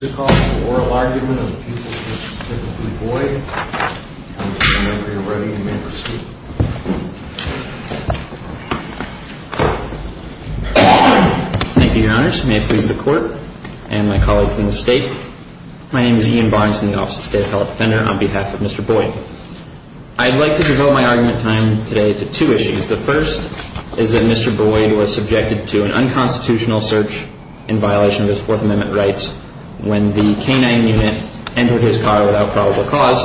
on behalf of Mr. Boyd. I'd like to devote my argument time today to two issues. The first is that Mr. Boyd was subjected to an unconstitutional search in violation of his rights when the canine unit entered his car without probable cause.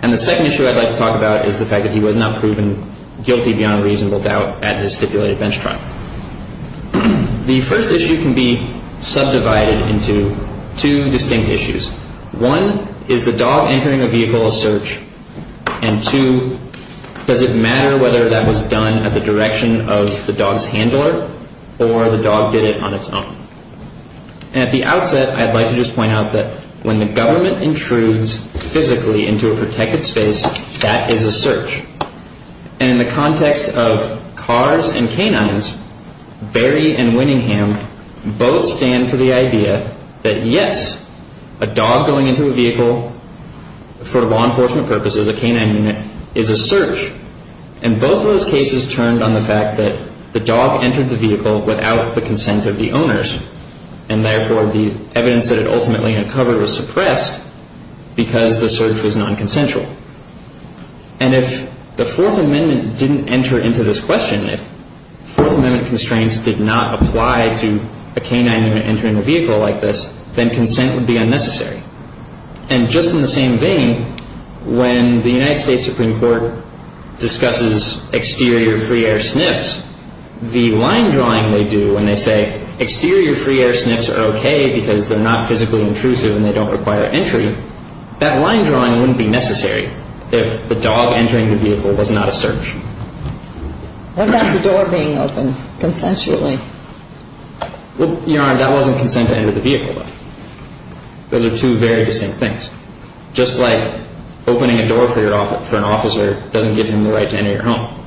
And the second issue I'd like to talk about is the fact that he was not proven guilty beyond reasonable doubt at his stipulated bench trial. The first issue can be subdivided into two distinct issues. One, is the dog entering a vehicle a search? And two, does it matter whether that was done at the direction of the dog's handler or the dog did it on its own? And at the outset, I'd like to just point out that when the government intrudes physically into a protected space, that is a search. And in the context of cars and canines, Berry and Winningham both stand for the idea that yes, a dog going into a vehicle for law enforcement purposes, a canine unit, is a search. And both of those cases turned on the fact that the dog entered the vehicle without the consent of the owners. And therefore, the evidence that it ultimately uncovered was suppressed because the search was non-consensual. And if the Fourth Amendment didn't enter into this question, if Fourth Amendment constraints did not apply to a canine unit entering a vehicle like this, then consent would be unnecessary. And just in the same vein, when the United States Supreme Court discusses exterior free air sniffs, the line drawing they do when they say exterior free air sniffs are okay because they're not physically intrusive and they don't require entry, that line drawing wouldn't be necessary if the dog entering the vehicle was not a search. What about the door being open consensually? Well, Your Honor, that wasn't consent to enter the vehicle, though. Those are two very distinct things. Just like opening a door for an officer doesn't give him the right to enter your home.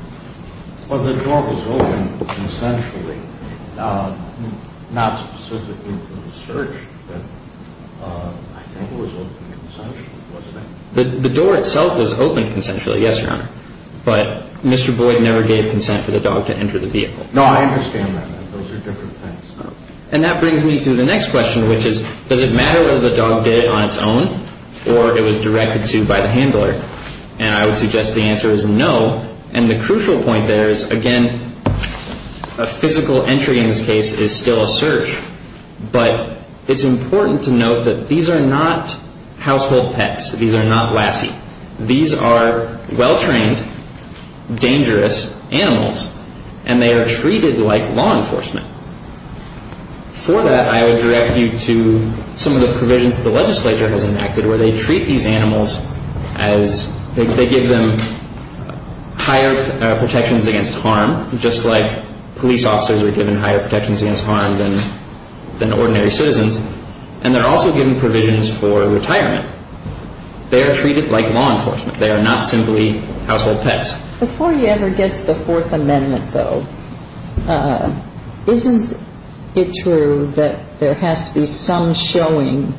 Well, the door was open consensually, not specifically for the search, but I think it was open consensually, wasn't it? The door itself was open consensually, yes, Your Honor. But Mr. Boyd never gave consent for the dog to enter the vehicle. No, I understand that. Those are different things. And that brings me to the next question, which is, does it matter whether the dog did it on its own or it was directed to by the handler? And I would suggest the answer is no. And the crucial point there is, again, a physical entry in this case is still a search. But it's important to note that these are not household pets. These are not lassie. These are well-trained, dangerous animals, and they are treated like law enforcement. For that, I would direct you to some of the provisions the legislature has enacted where they treat these animals as they give them higher protections against harm, just like police officers are given higher protections against harm than ordinary citizens. And they're also given provisions for retirement. They are treated like law enforcement. They are not simply household pets. Before you ever get to the Fourth Amendment, though, isn't it true that there has to be some showing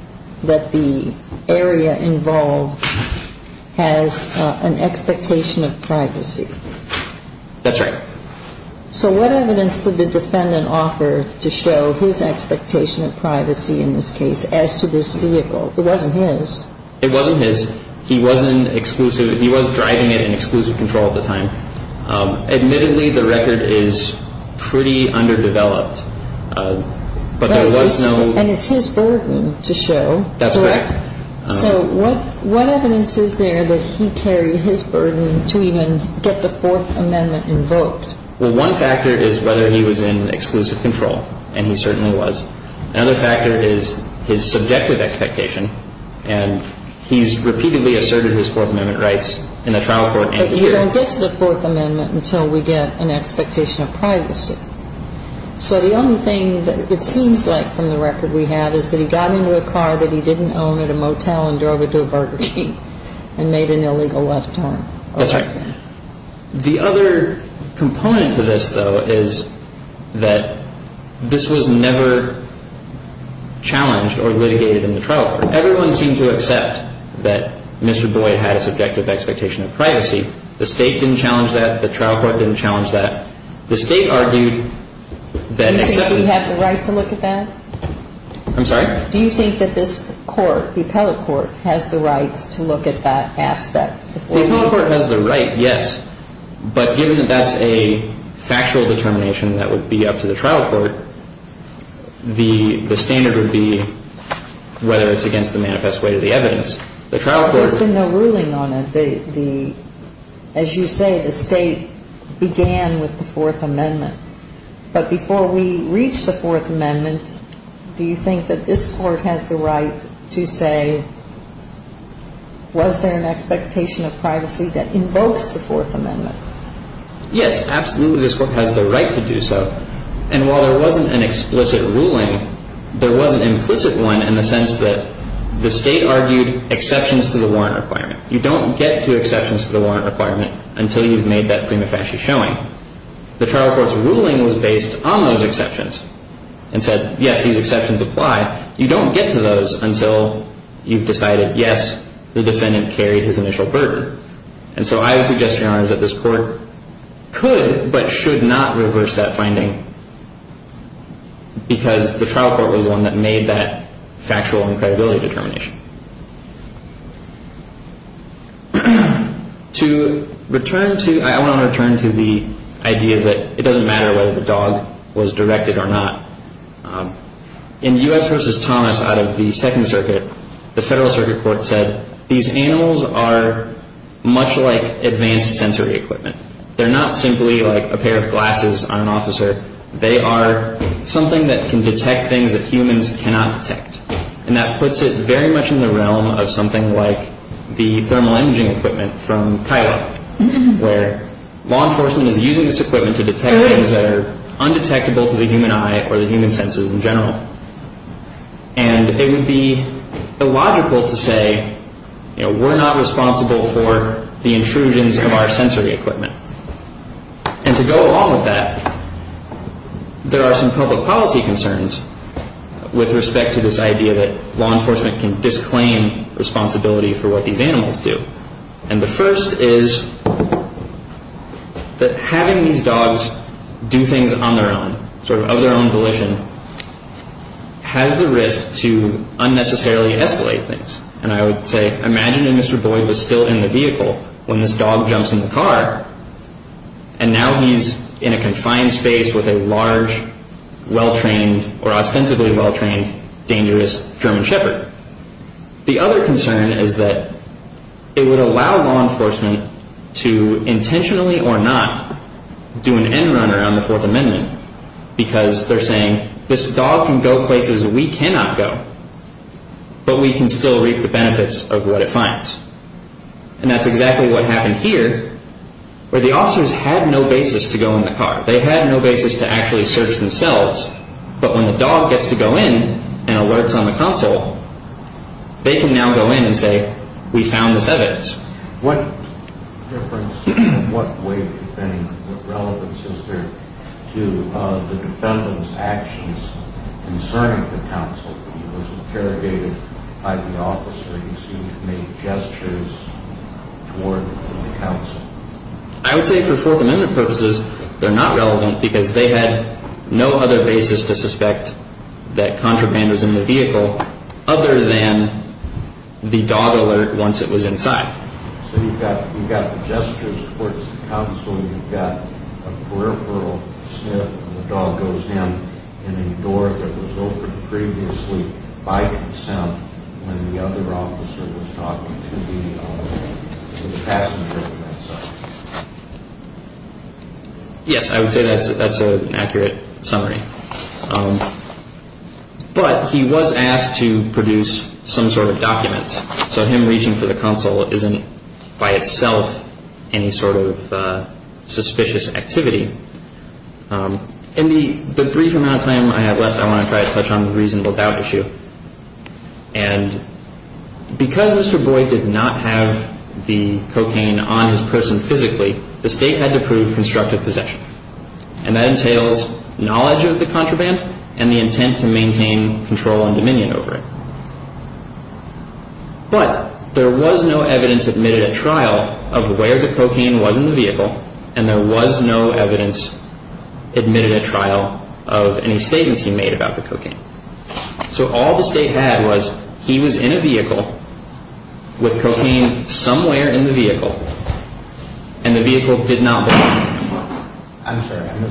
that the area involved has an expectation of privacy? That's right. So what evidence did the defendant offer to show his expectation of privacy in this case as to this vehicle? It wasn't his. It wasn't his. He was driving it in exclusive control at the time. Admittedly, the record is pretty underdeveloped, but there was no – And it's his burden to show, correct? That's correct. So what evidence is there that he carried his burden to even get the Fourth Amendment invoked? Well, one factor is whether he was in exclusive control, and he certainly was. Another factor is his subjective expectation, and he's repeatedly asserted his Fourth Amendment rights in the trial court and in the jury. But you don't get to the Fourth Amendment until we get an expectation of privacy. So the only thing that it seems like from the record we have is that he got into a car that he didn't own at a motel and drove it to a Burger King and made an illegal left turn. That's right. The other component to this, though, is that this was never challenged or litigated in the trial court. Everyone seemed to accept that Mr. Boyd had a subjective expectation of privacy. The State didn't challenge that. The trial court didn't challenge that. The State argued that except – Do you think we have the right to look at that? I'm sorry? Do you think that this court, the appellate court, has the right to look at that aspect The appellate court has the right, yes. But given that that's a factual determination that would be up to the trial court, the standard would be whether it's against the manifest way to the evidence. The trial court – There's been no ruling on it. The – as you say, the State began with the Fourth Amendment. But before we reach the Fourth Amendment, do you think that this court has the right to say, was there an expectation of privacy that invokes the Fourth Amendment? Yes, absolutely, this court has the right to do so. And while there wasn't an explicit ruling, there was an implicit one in the sense that the State argued exceptions to the warrant requirement. You don't get to exceptions to the warrant requirement until you've made that prima facie showing. The trial court's ruling was based on those exceptions and said, yes, these exceptions apply. You don't get to those until you've decided, yes, the defendant carried his initial burden. And so I would suggest, Your Honor, that this court could but should not reverse that finding because the trial court was the one that made that factual and credibility determination. To return to – I want to return to the idea that it doesn't matter whether the dog was directed or not. In U.S. v. Thomas out of the Second Circuit, the Federal Circuit Court said, these animals are much like advanced sensory equipment. They're not simply like a pair of glasses on an officer. They are something that can detect things that humans cannot detect. And that puts it very much in the realm of something like the thermal imaging equipment from Kiowa, where law enforcement is using this equipment to detect things that are undetectable to the human eye or the human senses in general. And it would be illogical to say, you know, we're not responsible for the intrusions of our sensory equipment. And to go along with that, there are some public policy concerns with respect to this and the first is that having these dogs do things on their own, sort of of their own volition, has the risk to unnecessarily escalate things. And I would say, imagine if Mr. Boyd was still in the vehicle when this dog jumps in the car and now he's in a confined space with a large, well-trained, or ostensibly well-trained, dangerous German shepherd. The other concern is that it would allow law enforcement to intentionally or not do an end-run around the Fourth Amendment because they're saying, this dog can go places we cannot go, but we can still reap the benefits of what it finds. And that's exactly what happened here, where the officers had no basis to go in the car. They had no basis to actually search themselves, but when the dog gets to go in and alerts on the council, they can now go in and say, we found the sevenths. What difference, in what way do you think, what relevance is there to the defendant's actions concerning the council when he was interrogated by the officers who made gestures toward the council? I would say for Fourth Amendment purposes, they're not relevant because they had no other basis to suspect that contraband was in the vehicle other than the dog alert once it was inside. So you've got the gestures towards the council, you've got a peripheral sniff when the dog goes in, and a door that was opened previously by consent when the other officer was talking to the passenger. Yes, I would say that's an accurate summary. But he was asked to produce some sort of document, so him reaching for the council isn't by itself any sort of suspicious activity. In the brief amount of time I have left, I want to try to touch on the reasonable doubt issue. And because Mr. Boyd did not have the cocaine on his person physically, the state had to prove constructive possession. And that entails knowledge of the contraband and the intent to maintain control and dominion over it. But there was no evidence admitted at trial of where the cocaine was in the vehicle, and there was no evidence admitted at trial of any statements he made about the cocaine. So all the state had was he was in a vehicle with cocaine somewhere in the vehicle, and the vehicle did not belong to him.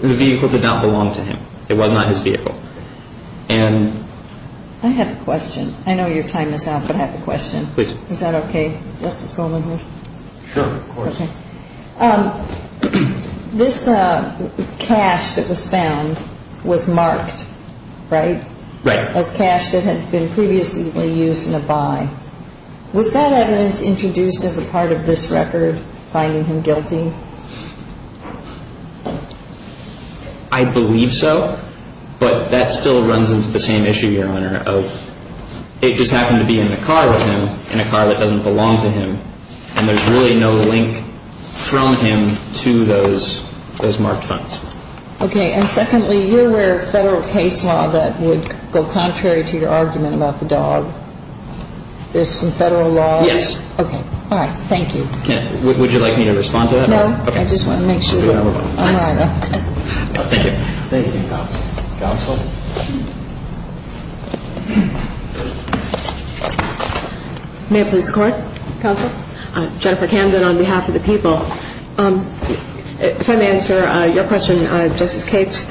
The vehicle did not belong to him. It was not his vehicle. I have a question. I know your time is up, but I have a question. Is that okay? This cash that was found was marked, right? Right. As cash that had been previously used in a buy. Was that evidence introduced as a part of this record, finding him guilty? I believe so. I believe so. But that still runs into the same issue, Your Honor, of it just happened to be in the car with him, in a car that doesn't belong to him. And there's really no link from him to those marked funds. Okay. And secondly, you're aware of Federal case law that would go contrary to your argument about the dog. Yes. All right. Thank you. Would you like me to respond to that? No. Thank you, Counsel. Counsel? May I please record? Jennifer Camden on behalf of the people. If I may answer your question, Justice Cates.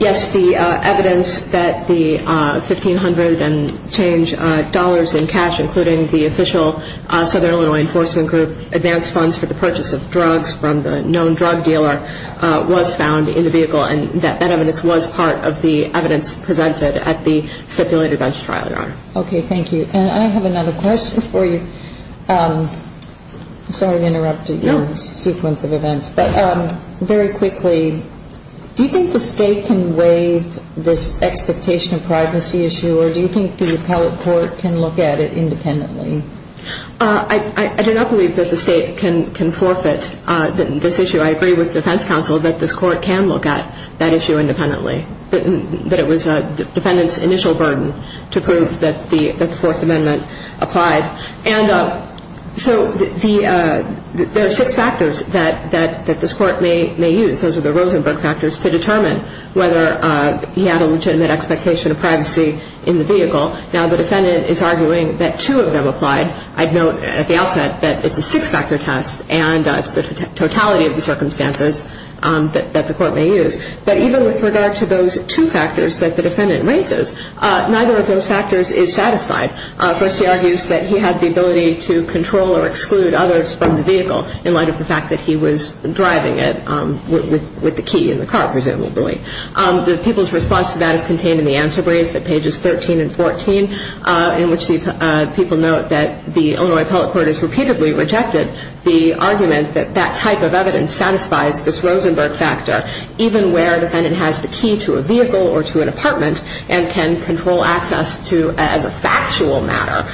Yes, the evidence that the 1,500 and change dollars in cash, including the official Southern Illinois Enforcement Group advance funds for the purchase of drugs from the known drug dealer was found in the vehicle, and that evidence was part of the evidence presented at the stipulated bench trial, Your Honor. Okay, thank you. And I have another question for you. Sorry to interrupt your sequence of events, but very quickly, do you think the state can waive this expectation of privacy issue, or do you think the appellate court can look at it independently? I do not believe that the state can forfeit this issue. I agree with defense counsel that this court can look at that issue independently, that it was a defendant's initial burden to prove that the Fourth Amendment applied. So there are six factors that this court may use. Those are the Rosenberg factors to determine whether he had a legitimate expectation of privacy in the vehicle. Now, the defendant is arguing that two of them applied. I'd note at the outset that it's a totality of the circumstances that the court may use. But even with regard to those two factors that the defendant raises, neither of those factors is satisfied. Firstly, he argues that he had the ability to control or exclude others from the vehicle in light of the fact that he was driving it with the key in the car, presumably. The people's response to that is contained in the answer brief at pages 13 and 14 in which the people note that the Illinois appellate court has repeatedly rejected the argument that that type of evidence satisfies this Rosenberg factor even where a defendant has the key to a vehicle or to an apartment and can control access to as a factual matter.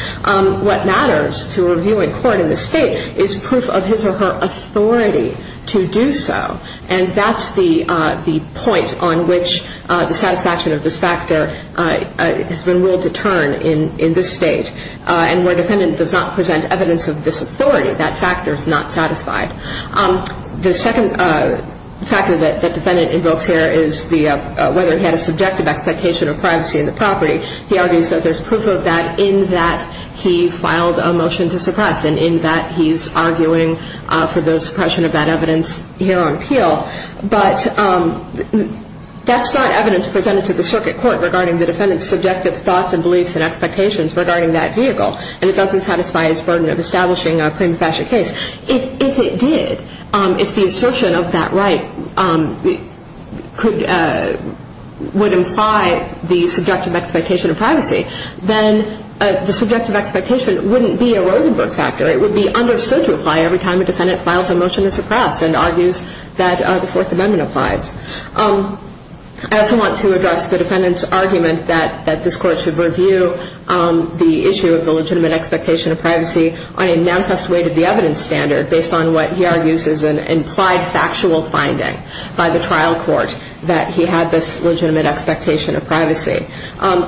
What matters to a reviewing court in this state is proof of his or her authority to do so. And that's the point on which the satisfaction of this factor has been willed to turn in this state. And where a defendant does not present evidence of this authority, that factor is not satisfied. The second factor that the defendant invokes here is whether he had a subjective expectation of privacy in the property. He argues that there's proof of that in that he filed a motion to suppress and in that he's arguing for the suppression of that evidence here on appeal. But that's not evidence presented to the circuit court regarding the defendant's subjective thoughts and beliefs and expectations regarding that argument of establishing a prima facie case. If it did, if the assertion of that right would imply the subjective expectation of privacy, then the subjective expectation wouldn't be a Rosenberg factor. It would be understood to apply every time a defendant files a motion to suppress and argues that the Fourth Amendment applies. I also want to address the defendant's argument that this court should review the issue of the legitimate expectation of privacy on a manifest weight of the evidence standard based on what he argues is an implied factual finding by the trial court that he had this legitimate expectation of privacy.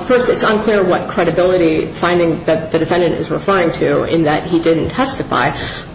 First, it's unclear what credibility finding that the defendant is referring to in that he didn't testify.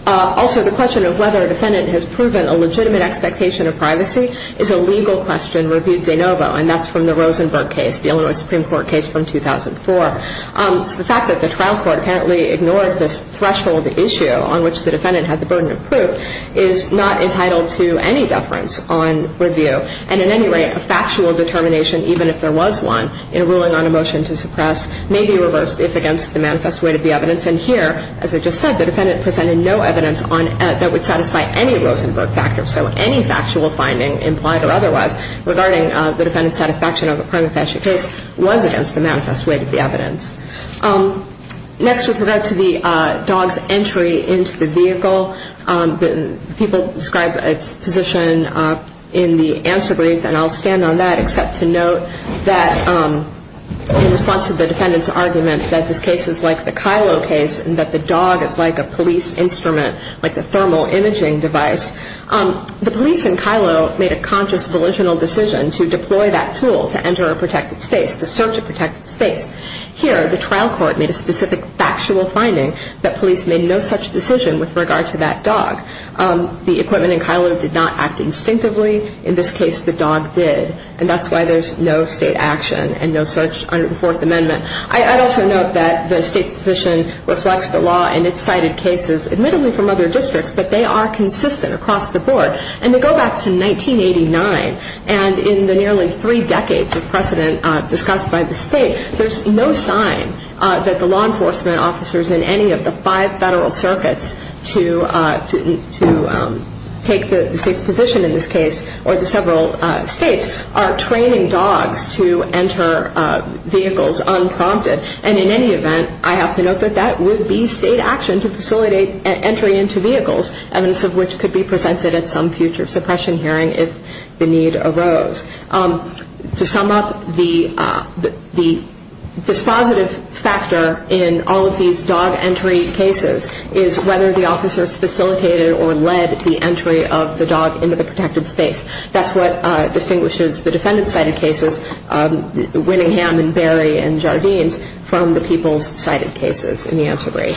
Also, the question of whether a defendant has proven a legitimate expectation of privacy is a legal question reviewed de novo. And that's from the Rosenberg case, the Rosenberg case. So the fact that the trial court apparently ignored this threshold issue on which the defendant had the burden of proof is not entitled to any deference on review. And at any rate, a factual determination, even if there was one, in a ruling on a motion to suppress may be reversed if against the manifest weight of the evidence. And here, as I just said, the defendant presented no evidence that would satisfy any Rosenberg factor. So any factual finding, implied or otherwise, regarding the defendant's satisfaction of a prima prima evidence. Next, with regard to the dog's entry into the vehicle, people describe its position in the answer brief, and I'll stand on that except to note that in response to the defendant's argument that this case is like the Kylo case and that the dog is like a police instrument, like the thermal imaging device, the police in Kylo made a conscious, volitional decision to deploy that tool to enter a protected space. Here, the trial court made a specific factual finding that police made no such decision with regard to that dog. The equipment in Kylo did not act instinctively. In this case, the dog did. And that's why there's no State action and no such under the Fourth Amendment. I'd also note that the State's position reflects the law in its cited cases, admittedly from other districts, but they are consistent across the board. And they go back to 1989, and in the nearly three decades of precedent discussed by the State, there's no sign that the law enforcement officers in any of the five Federal circuits to take the State's position in this case or the several States are training dogs to enter vehicles unprompted. And in any event, I have to note that that would be State action to facilitate entry into vehicles, evidence of which could be presented at some future suppression hearing if the need arose. To sum up, the dispositive factor in all of these dog entry cases is whether the officers facilitated or led the entry of the dog into the protected space. That's what distinguishes the defendant's cited cases, Winningham and Berry and Jardines, from the people's cited cases in the anti-rape.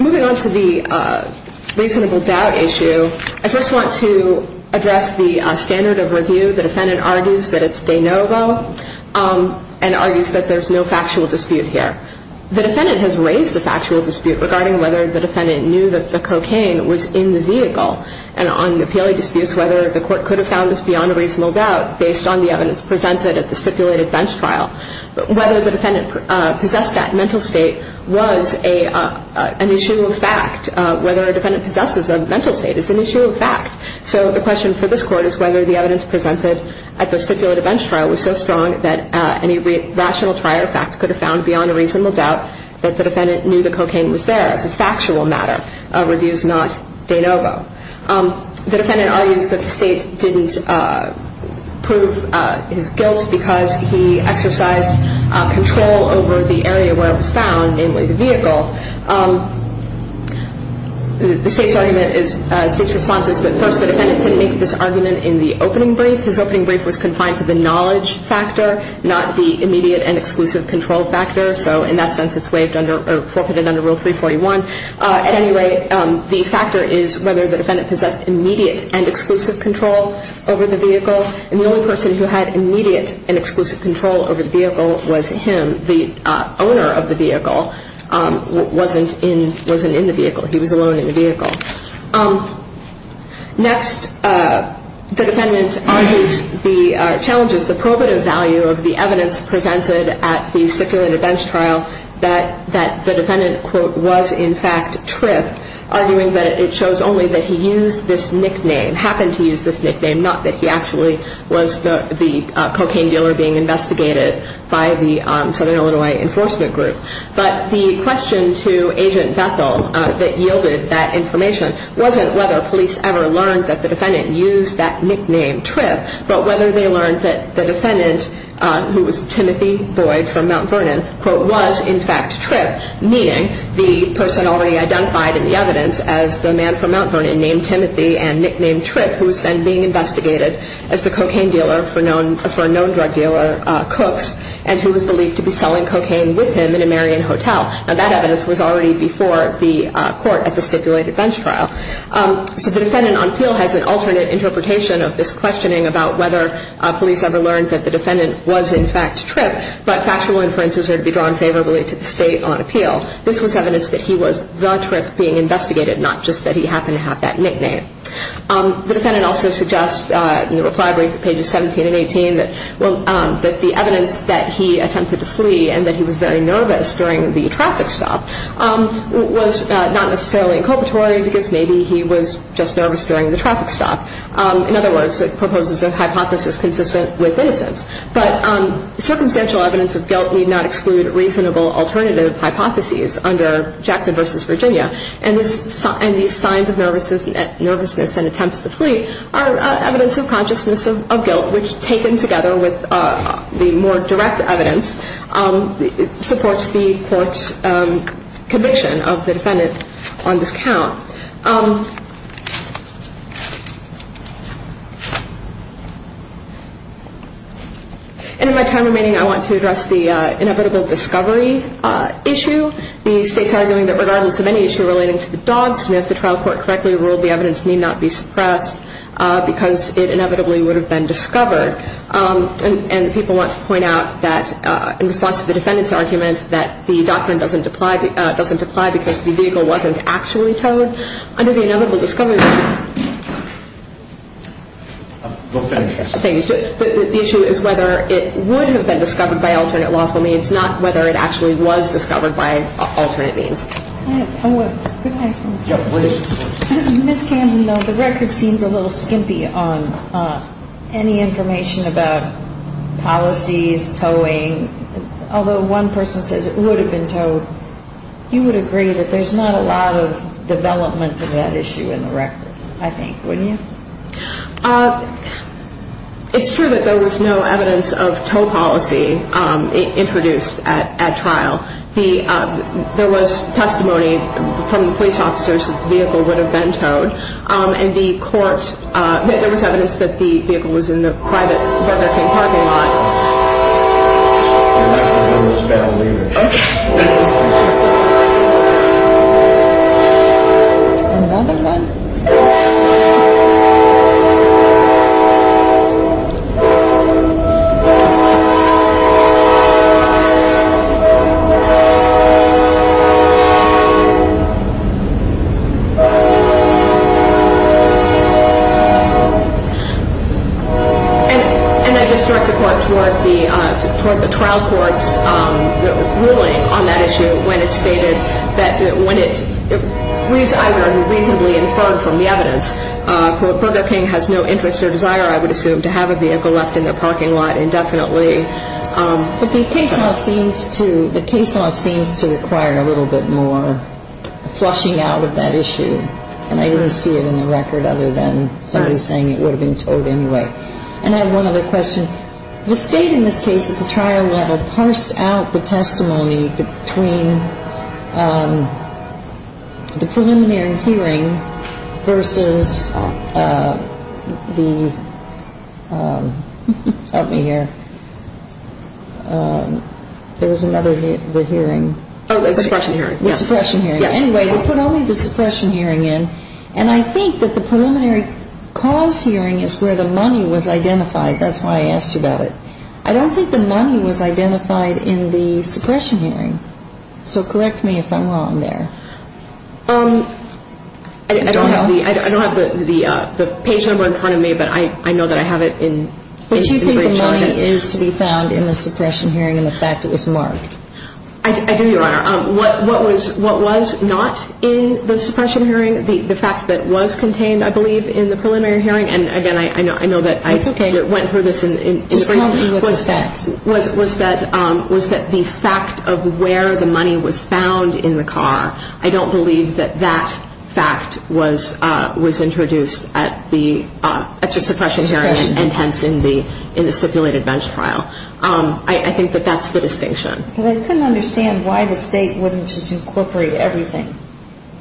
Moving on to the reasonable doubt issue, I just want to address the standard of review. The defendant argues that it's de novo and argues that there's no factual dispute here. The defendant has raised a factual dispute regarding whether the defendant knew that the cocaine was in the vehicle. And on the disputes whether the court could have found this beyond a reasonable doubt based on the evidence presented at the stipulated bench trial, whether the defendant possessed that mental state was an issue of fact. Whether a defendant possesses a mental state is an issue of fact. So the question for this court is whether the evidence presented at the stipulated bench trial was so strong that any rational trier of facts could have found beyond a reasonable doubt that the defendant knew the cocaine was there as a factual matter. Review is not de novo. The defendant argues that the State didn't prove his guilt because he exercised control over the area where it was found, namely the vehicle. The State's argument is, State's response is that first the defendant didn't make this argument in the opening brief. His opening brief was confined to the knowledge factor, not the immediate and exclusive control factor. So in that sense it's waived under, or forfeited under Rule 341. At any rate, the factor is whether the defendant possessed immediate and exclusive control over the vehicle. And the only person who had immediate and exclusive control over the vehicle was him, the owner of the vehicle. He wasn't in the vehicle. He was alone in the vehicle. Next, the defendant argues the challenges, the probative value of the evidence presented at the stipulated bench trial that the defendant was in fact tripped, arguing that it shows only that he used this nickname, happened to use this nickname, not that he actually was the cocaine dealer being investigated by the Southern Illinois Enforcement Group. But the question to Agent Bethel that yielded that information wasn't whether police ever learned that the defendant used that nickname, Tripp, but whether they learned that the defendant who was Timothy Boyd from Mount Vernon, quote, was in fact Tripp, meaning the person already identified in the evidence as the man from Mount Vernon named Timothy and nicknamed Tripp who was then being investigated as the cocaine dealer for known drug dealer Cooks and who was believed to be selling cocaine with him in a Marion hotel. Now, that evidence was already before the court at the stipulated bench trial. So the defendant on appeal has an alternate interpretation of this questioning about whether police ever learned that the defendant was in fact Tripp, but factual inferences are to be drawn favorably to the state on appeal. This was evidence that he was the Tripp being investigated, not just that he happened to have that nickname. The defendant also suggests in the reply brief at pages 17 and 18 that the evidence that he attempted to flee and that he was very nervous during the traffic stop was not necessarily inculpatory because maybe he was just nervous during the traffic stop. In other words, it proposes a hypothesis consistent with innocence. But circumstantial evidence of guilt need not exclude reasonable alternative hypotheses under Jackson v. Virginia. And these signs of nervousness and attempts to flee are evidence of consciousness of guilt, which taken together with the more direct evidence supports the court's conviction of the defendant on this count. And in my time remaining, I want to address the inevitable discovery issue. The state's arguing that regardless of any issue relating to the defendant's argument that the doctrine doesn't apply because it inevitably would have been discovered. And people want to point out that in response to the defendant's argument that the doctrine doesn't apply because the vehicle wasn't actually towed. Under the inevitable discovery issue, the issue is whether it would have been discovered by alternate lawful means, not whether it actually was discovered by alternate means. Ms. Camden, the record seems a little skimpy on any information about policies, towing, although one person says it would have been towed. You would agree that there's not a lot of development in that issue in the record, I think, wouldn't you? It's true that there was no evidence of tow policy introduced at trial. There was testimony from the police officers that the vehicle would have been towed. And the court, there was evidence that the vehicle was in the private Burger King parking lot. Okay. And I just direct the court toward the trial court's ruling on that issue when it stated that when it reasonably inferred from the evidence Burger King has no interest or desire, I would assume, to have a vehicle left in their parking lot indefinitely. But the case law seems to require a little bit more flushing out of that issue. And I didn't see it in the record other than somebody saying it would have been towed anyway. And I have one other question. The State in this case at the trial level parsed out the testimony between the preliminary hearing versus the, help me here, there was another hearing. Oh, the suppression hearing. And I think that the preliminary cause hearing is where the money was identified. That's why I asked you about it. I don't think the money was identified in the suppression hearing. So correct me if I'm wrong there. I don't have the page number in front of me, but I know that I have it in What you think the money is to be found in the suppression hearing and the fact that it was marked? I do, Your Honor. What was not in the suppression hearing, the fact that was contained, I believe, in the preliminary hearing, and again, I know that I went through this in the Just tell me what the facts were. Was that the fact of where the money was found in the car. I don't believe that that fact was introduced at the suppression hearing and hence in the stipulated bench trial. I think that that's the distinction. I couldn't understand why the state wouldn't just incorporate everything.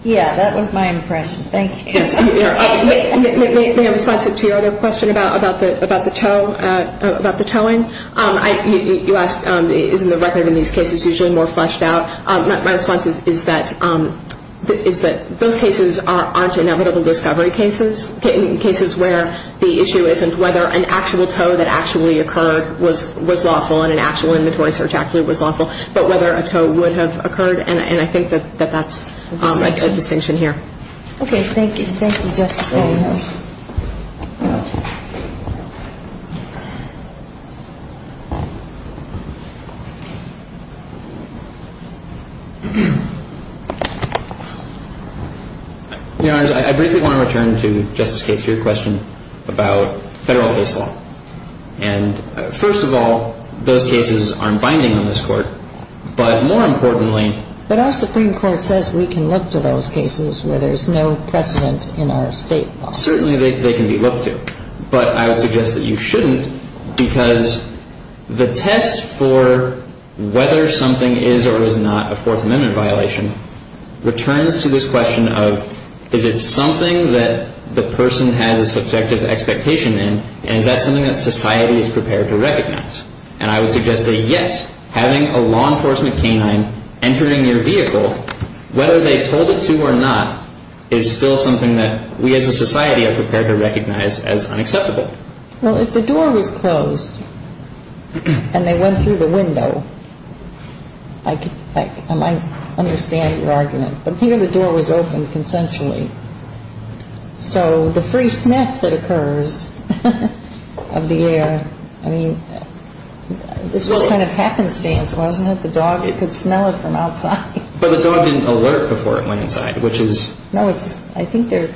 Yeah, that was my impression. Thank you. May I respond to your other question about the towing? You asked, isn't the record in these cases usually more fleshed out? My response is that those cases aren't inevitable discovery cases. Cases where the issue isn't whether an actual tow that actually occurred was lawful and an actual inventory search actually was lawful, but whether a tow would have occurred, and I think that that's a distinction here. Okay. Thank you. Thank you, Justice Kagan. Your Honor, I briefly want to return to Justice Kates' question about federal case law. First of all, those cases aren't binding on this Court, but more importantly But our Supreme Court says we can look to those cases where there's no precedent in our state law. Certainly they can be looked to, but I would suggest that you shouldn't because the test for whether something is or is not a Fourth Amendment violation returns to this question of is it something that the person has a subjective expectation in, and is that something that society is prepared to recognize? And I would suggest that, yes, having a law enforcement canine entering your vehicle, whether they told it to or not, is still something that we as a society are prepared to recognize as unacceptable. Well, if the door was closed and they went through the window, I might understand your argument, but here the door was open consensually. So the free sniff that occurs of the air, I mean, this was kind of happenstance, wasn't it? The dog could smell it from outside. But the dog didn't alert before it went inside, which is I think they're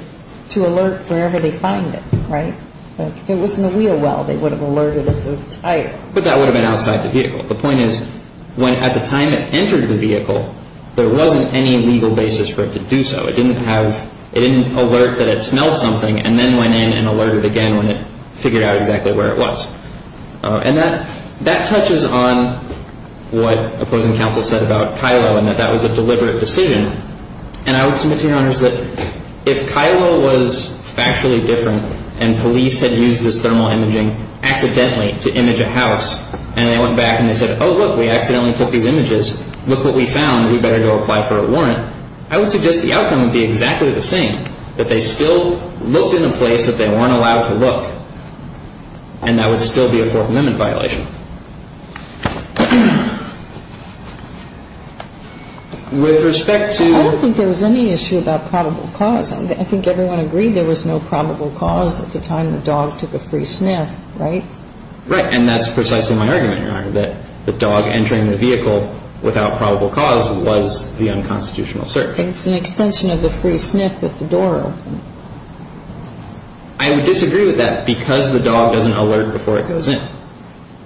to alert wherever they find it, right? If it was in the wheel well, they would have alerted at the tire. But that would have been outside the vehicle. The point is, when at the time it entered the vehicle, there wasn't any legal basis for it to do so. It didn't alert that it smelled something and then went in and alerted again when it figured out exactly where it was. And that touches on what opposing counsel said about Kylo and that that was a deliberate decision. And I would submit to your honors that if Kylo was factually different and police had used this thermal imaging accidentally to image a house, and they went back and they said, oh, look, we accidentally took these images, look what we found, we better go apply for a warrant, I would suggest the outcome would be exactly the same, that they still looked in a place that they weren't allowed to look. And that would still be a Fourth Amendment violation. With respect to... I don't think there was any issue about probable cause. I think everyone agreed there was no probable cause at the time the dog took a free sniff, right? Right. And that's precisely my argument, Your Honor, that the dog entering the vehicle without probable cause was the unconstitutional search. It's an extension of the free sniff with the door open. I would disagree with that because the dog doesn't alert before it goes in.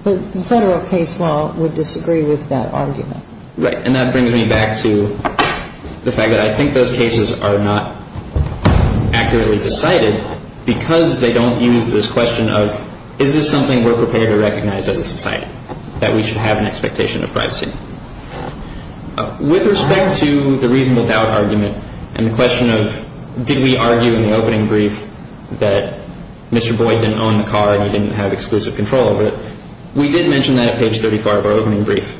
But the federal case law would disagree with that argument. Right. And that brings me back to the fact that I think those cases are not accurately decided because they don't use this question of is this something we're prepared to recognize as a society, that we should have an expectation of privacy? With respect to the reason without argument and the question of did we argue in the opening brief that Mr. Boyd didn't own the car and he didn't have exclusive control over it, we did mention that at page 34 of our opening brief.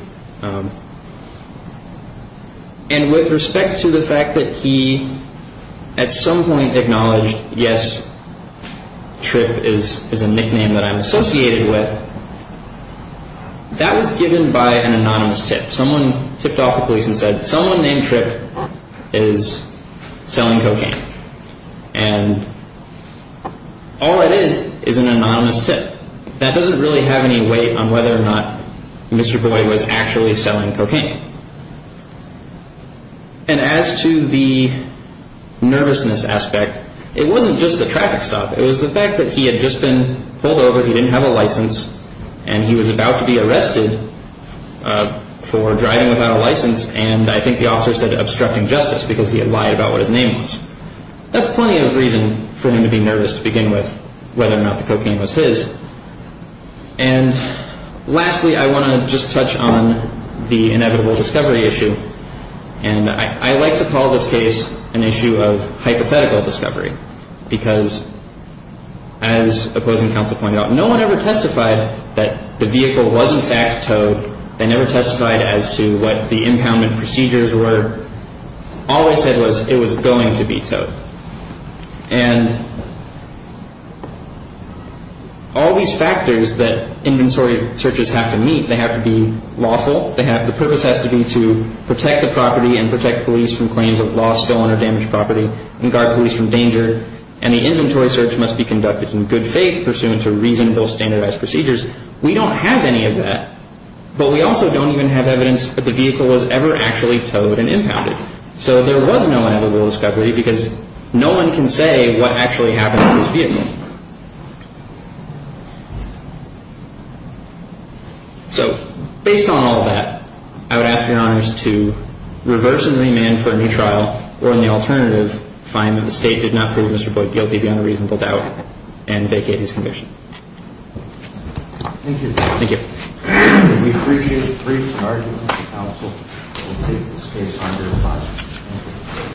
And with respect to the fact that he at some point acknowledged, yes, Tripp is a nickname that I'm associated with, that was given by an anonymous tip. Someone tipped off the police and said someone named Tripp is selling cocaine. And all it is is an anonymous tip. That doesn't really have any weight on whether or not Mr. Boyd was actually selling cocaine. And as to the nervousness aspect, it wasn't just the traffic stop. It was the fact that he had just been pulled over. He didn't have a license. And he was about to be arrested for driving without a license. And I think the officer said obstructing justice because he had lied about what his name was. That's plenty of reason for him to be nervous to begin with, whether or not the cocaine was his. And lastly, I want to just touch on the inevitable discovery issue. And I like to call this case an issue of hypothetical discovery. Because as opposing counsel pointed out, no one ever testified that the vehicle was in fact towed. They never testified as to what the impoundment procedures were. All they said was it was going to be towed. And all these factors that inventory searches have to meet, they have to be lawful. The purpose has to be to protect the property and protect police from claims of loss still on a damaged property and guard police from danger. And the inventory search must be conducted in good faith pursuant to reasonable standardized procedures. We don't have any of that. But we also don't even have evidence that the vehicle was ever actually towed and impounded. So there was no inevitable discovery because no one can say what actually happened to this vehicle. So based on all that, I would personally demand for a new trial or in the alternative find that the State did not prove Mr. Boyd guilty beyond a reasonable doubt and vacate his commission. Thank you. Thank you.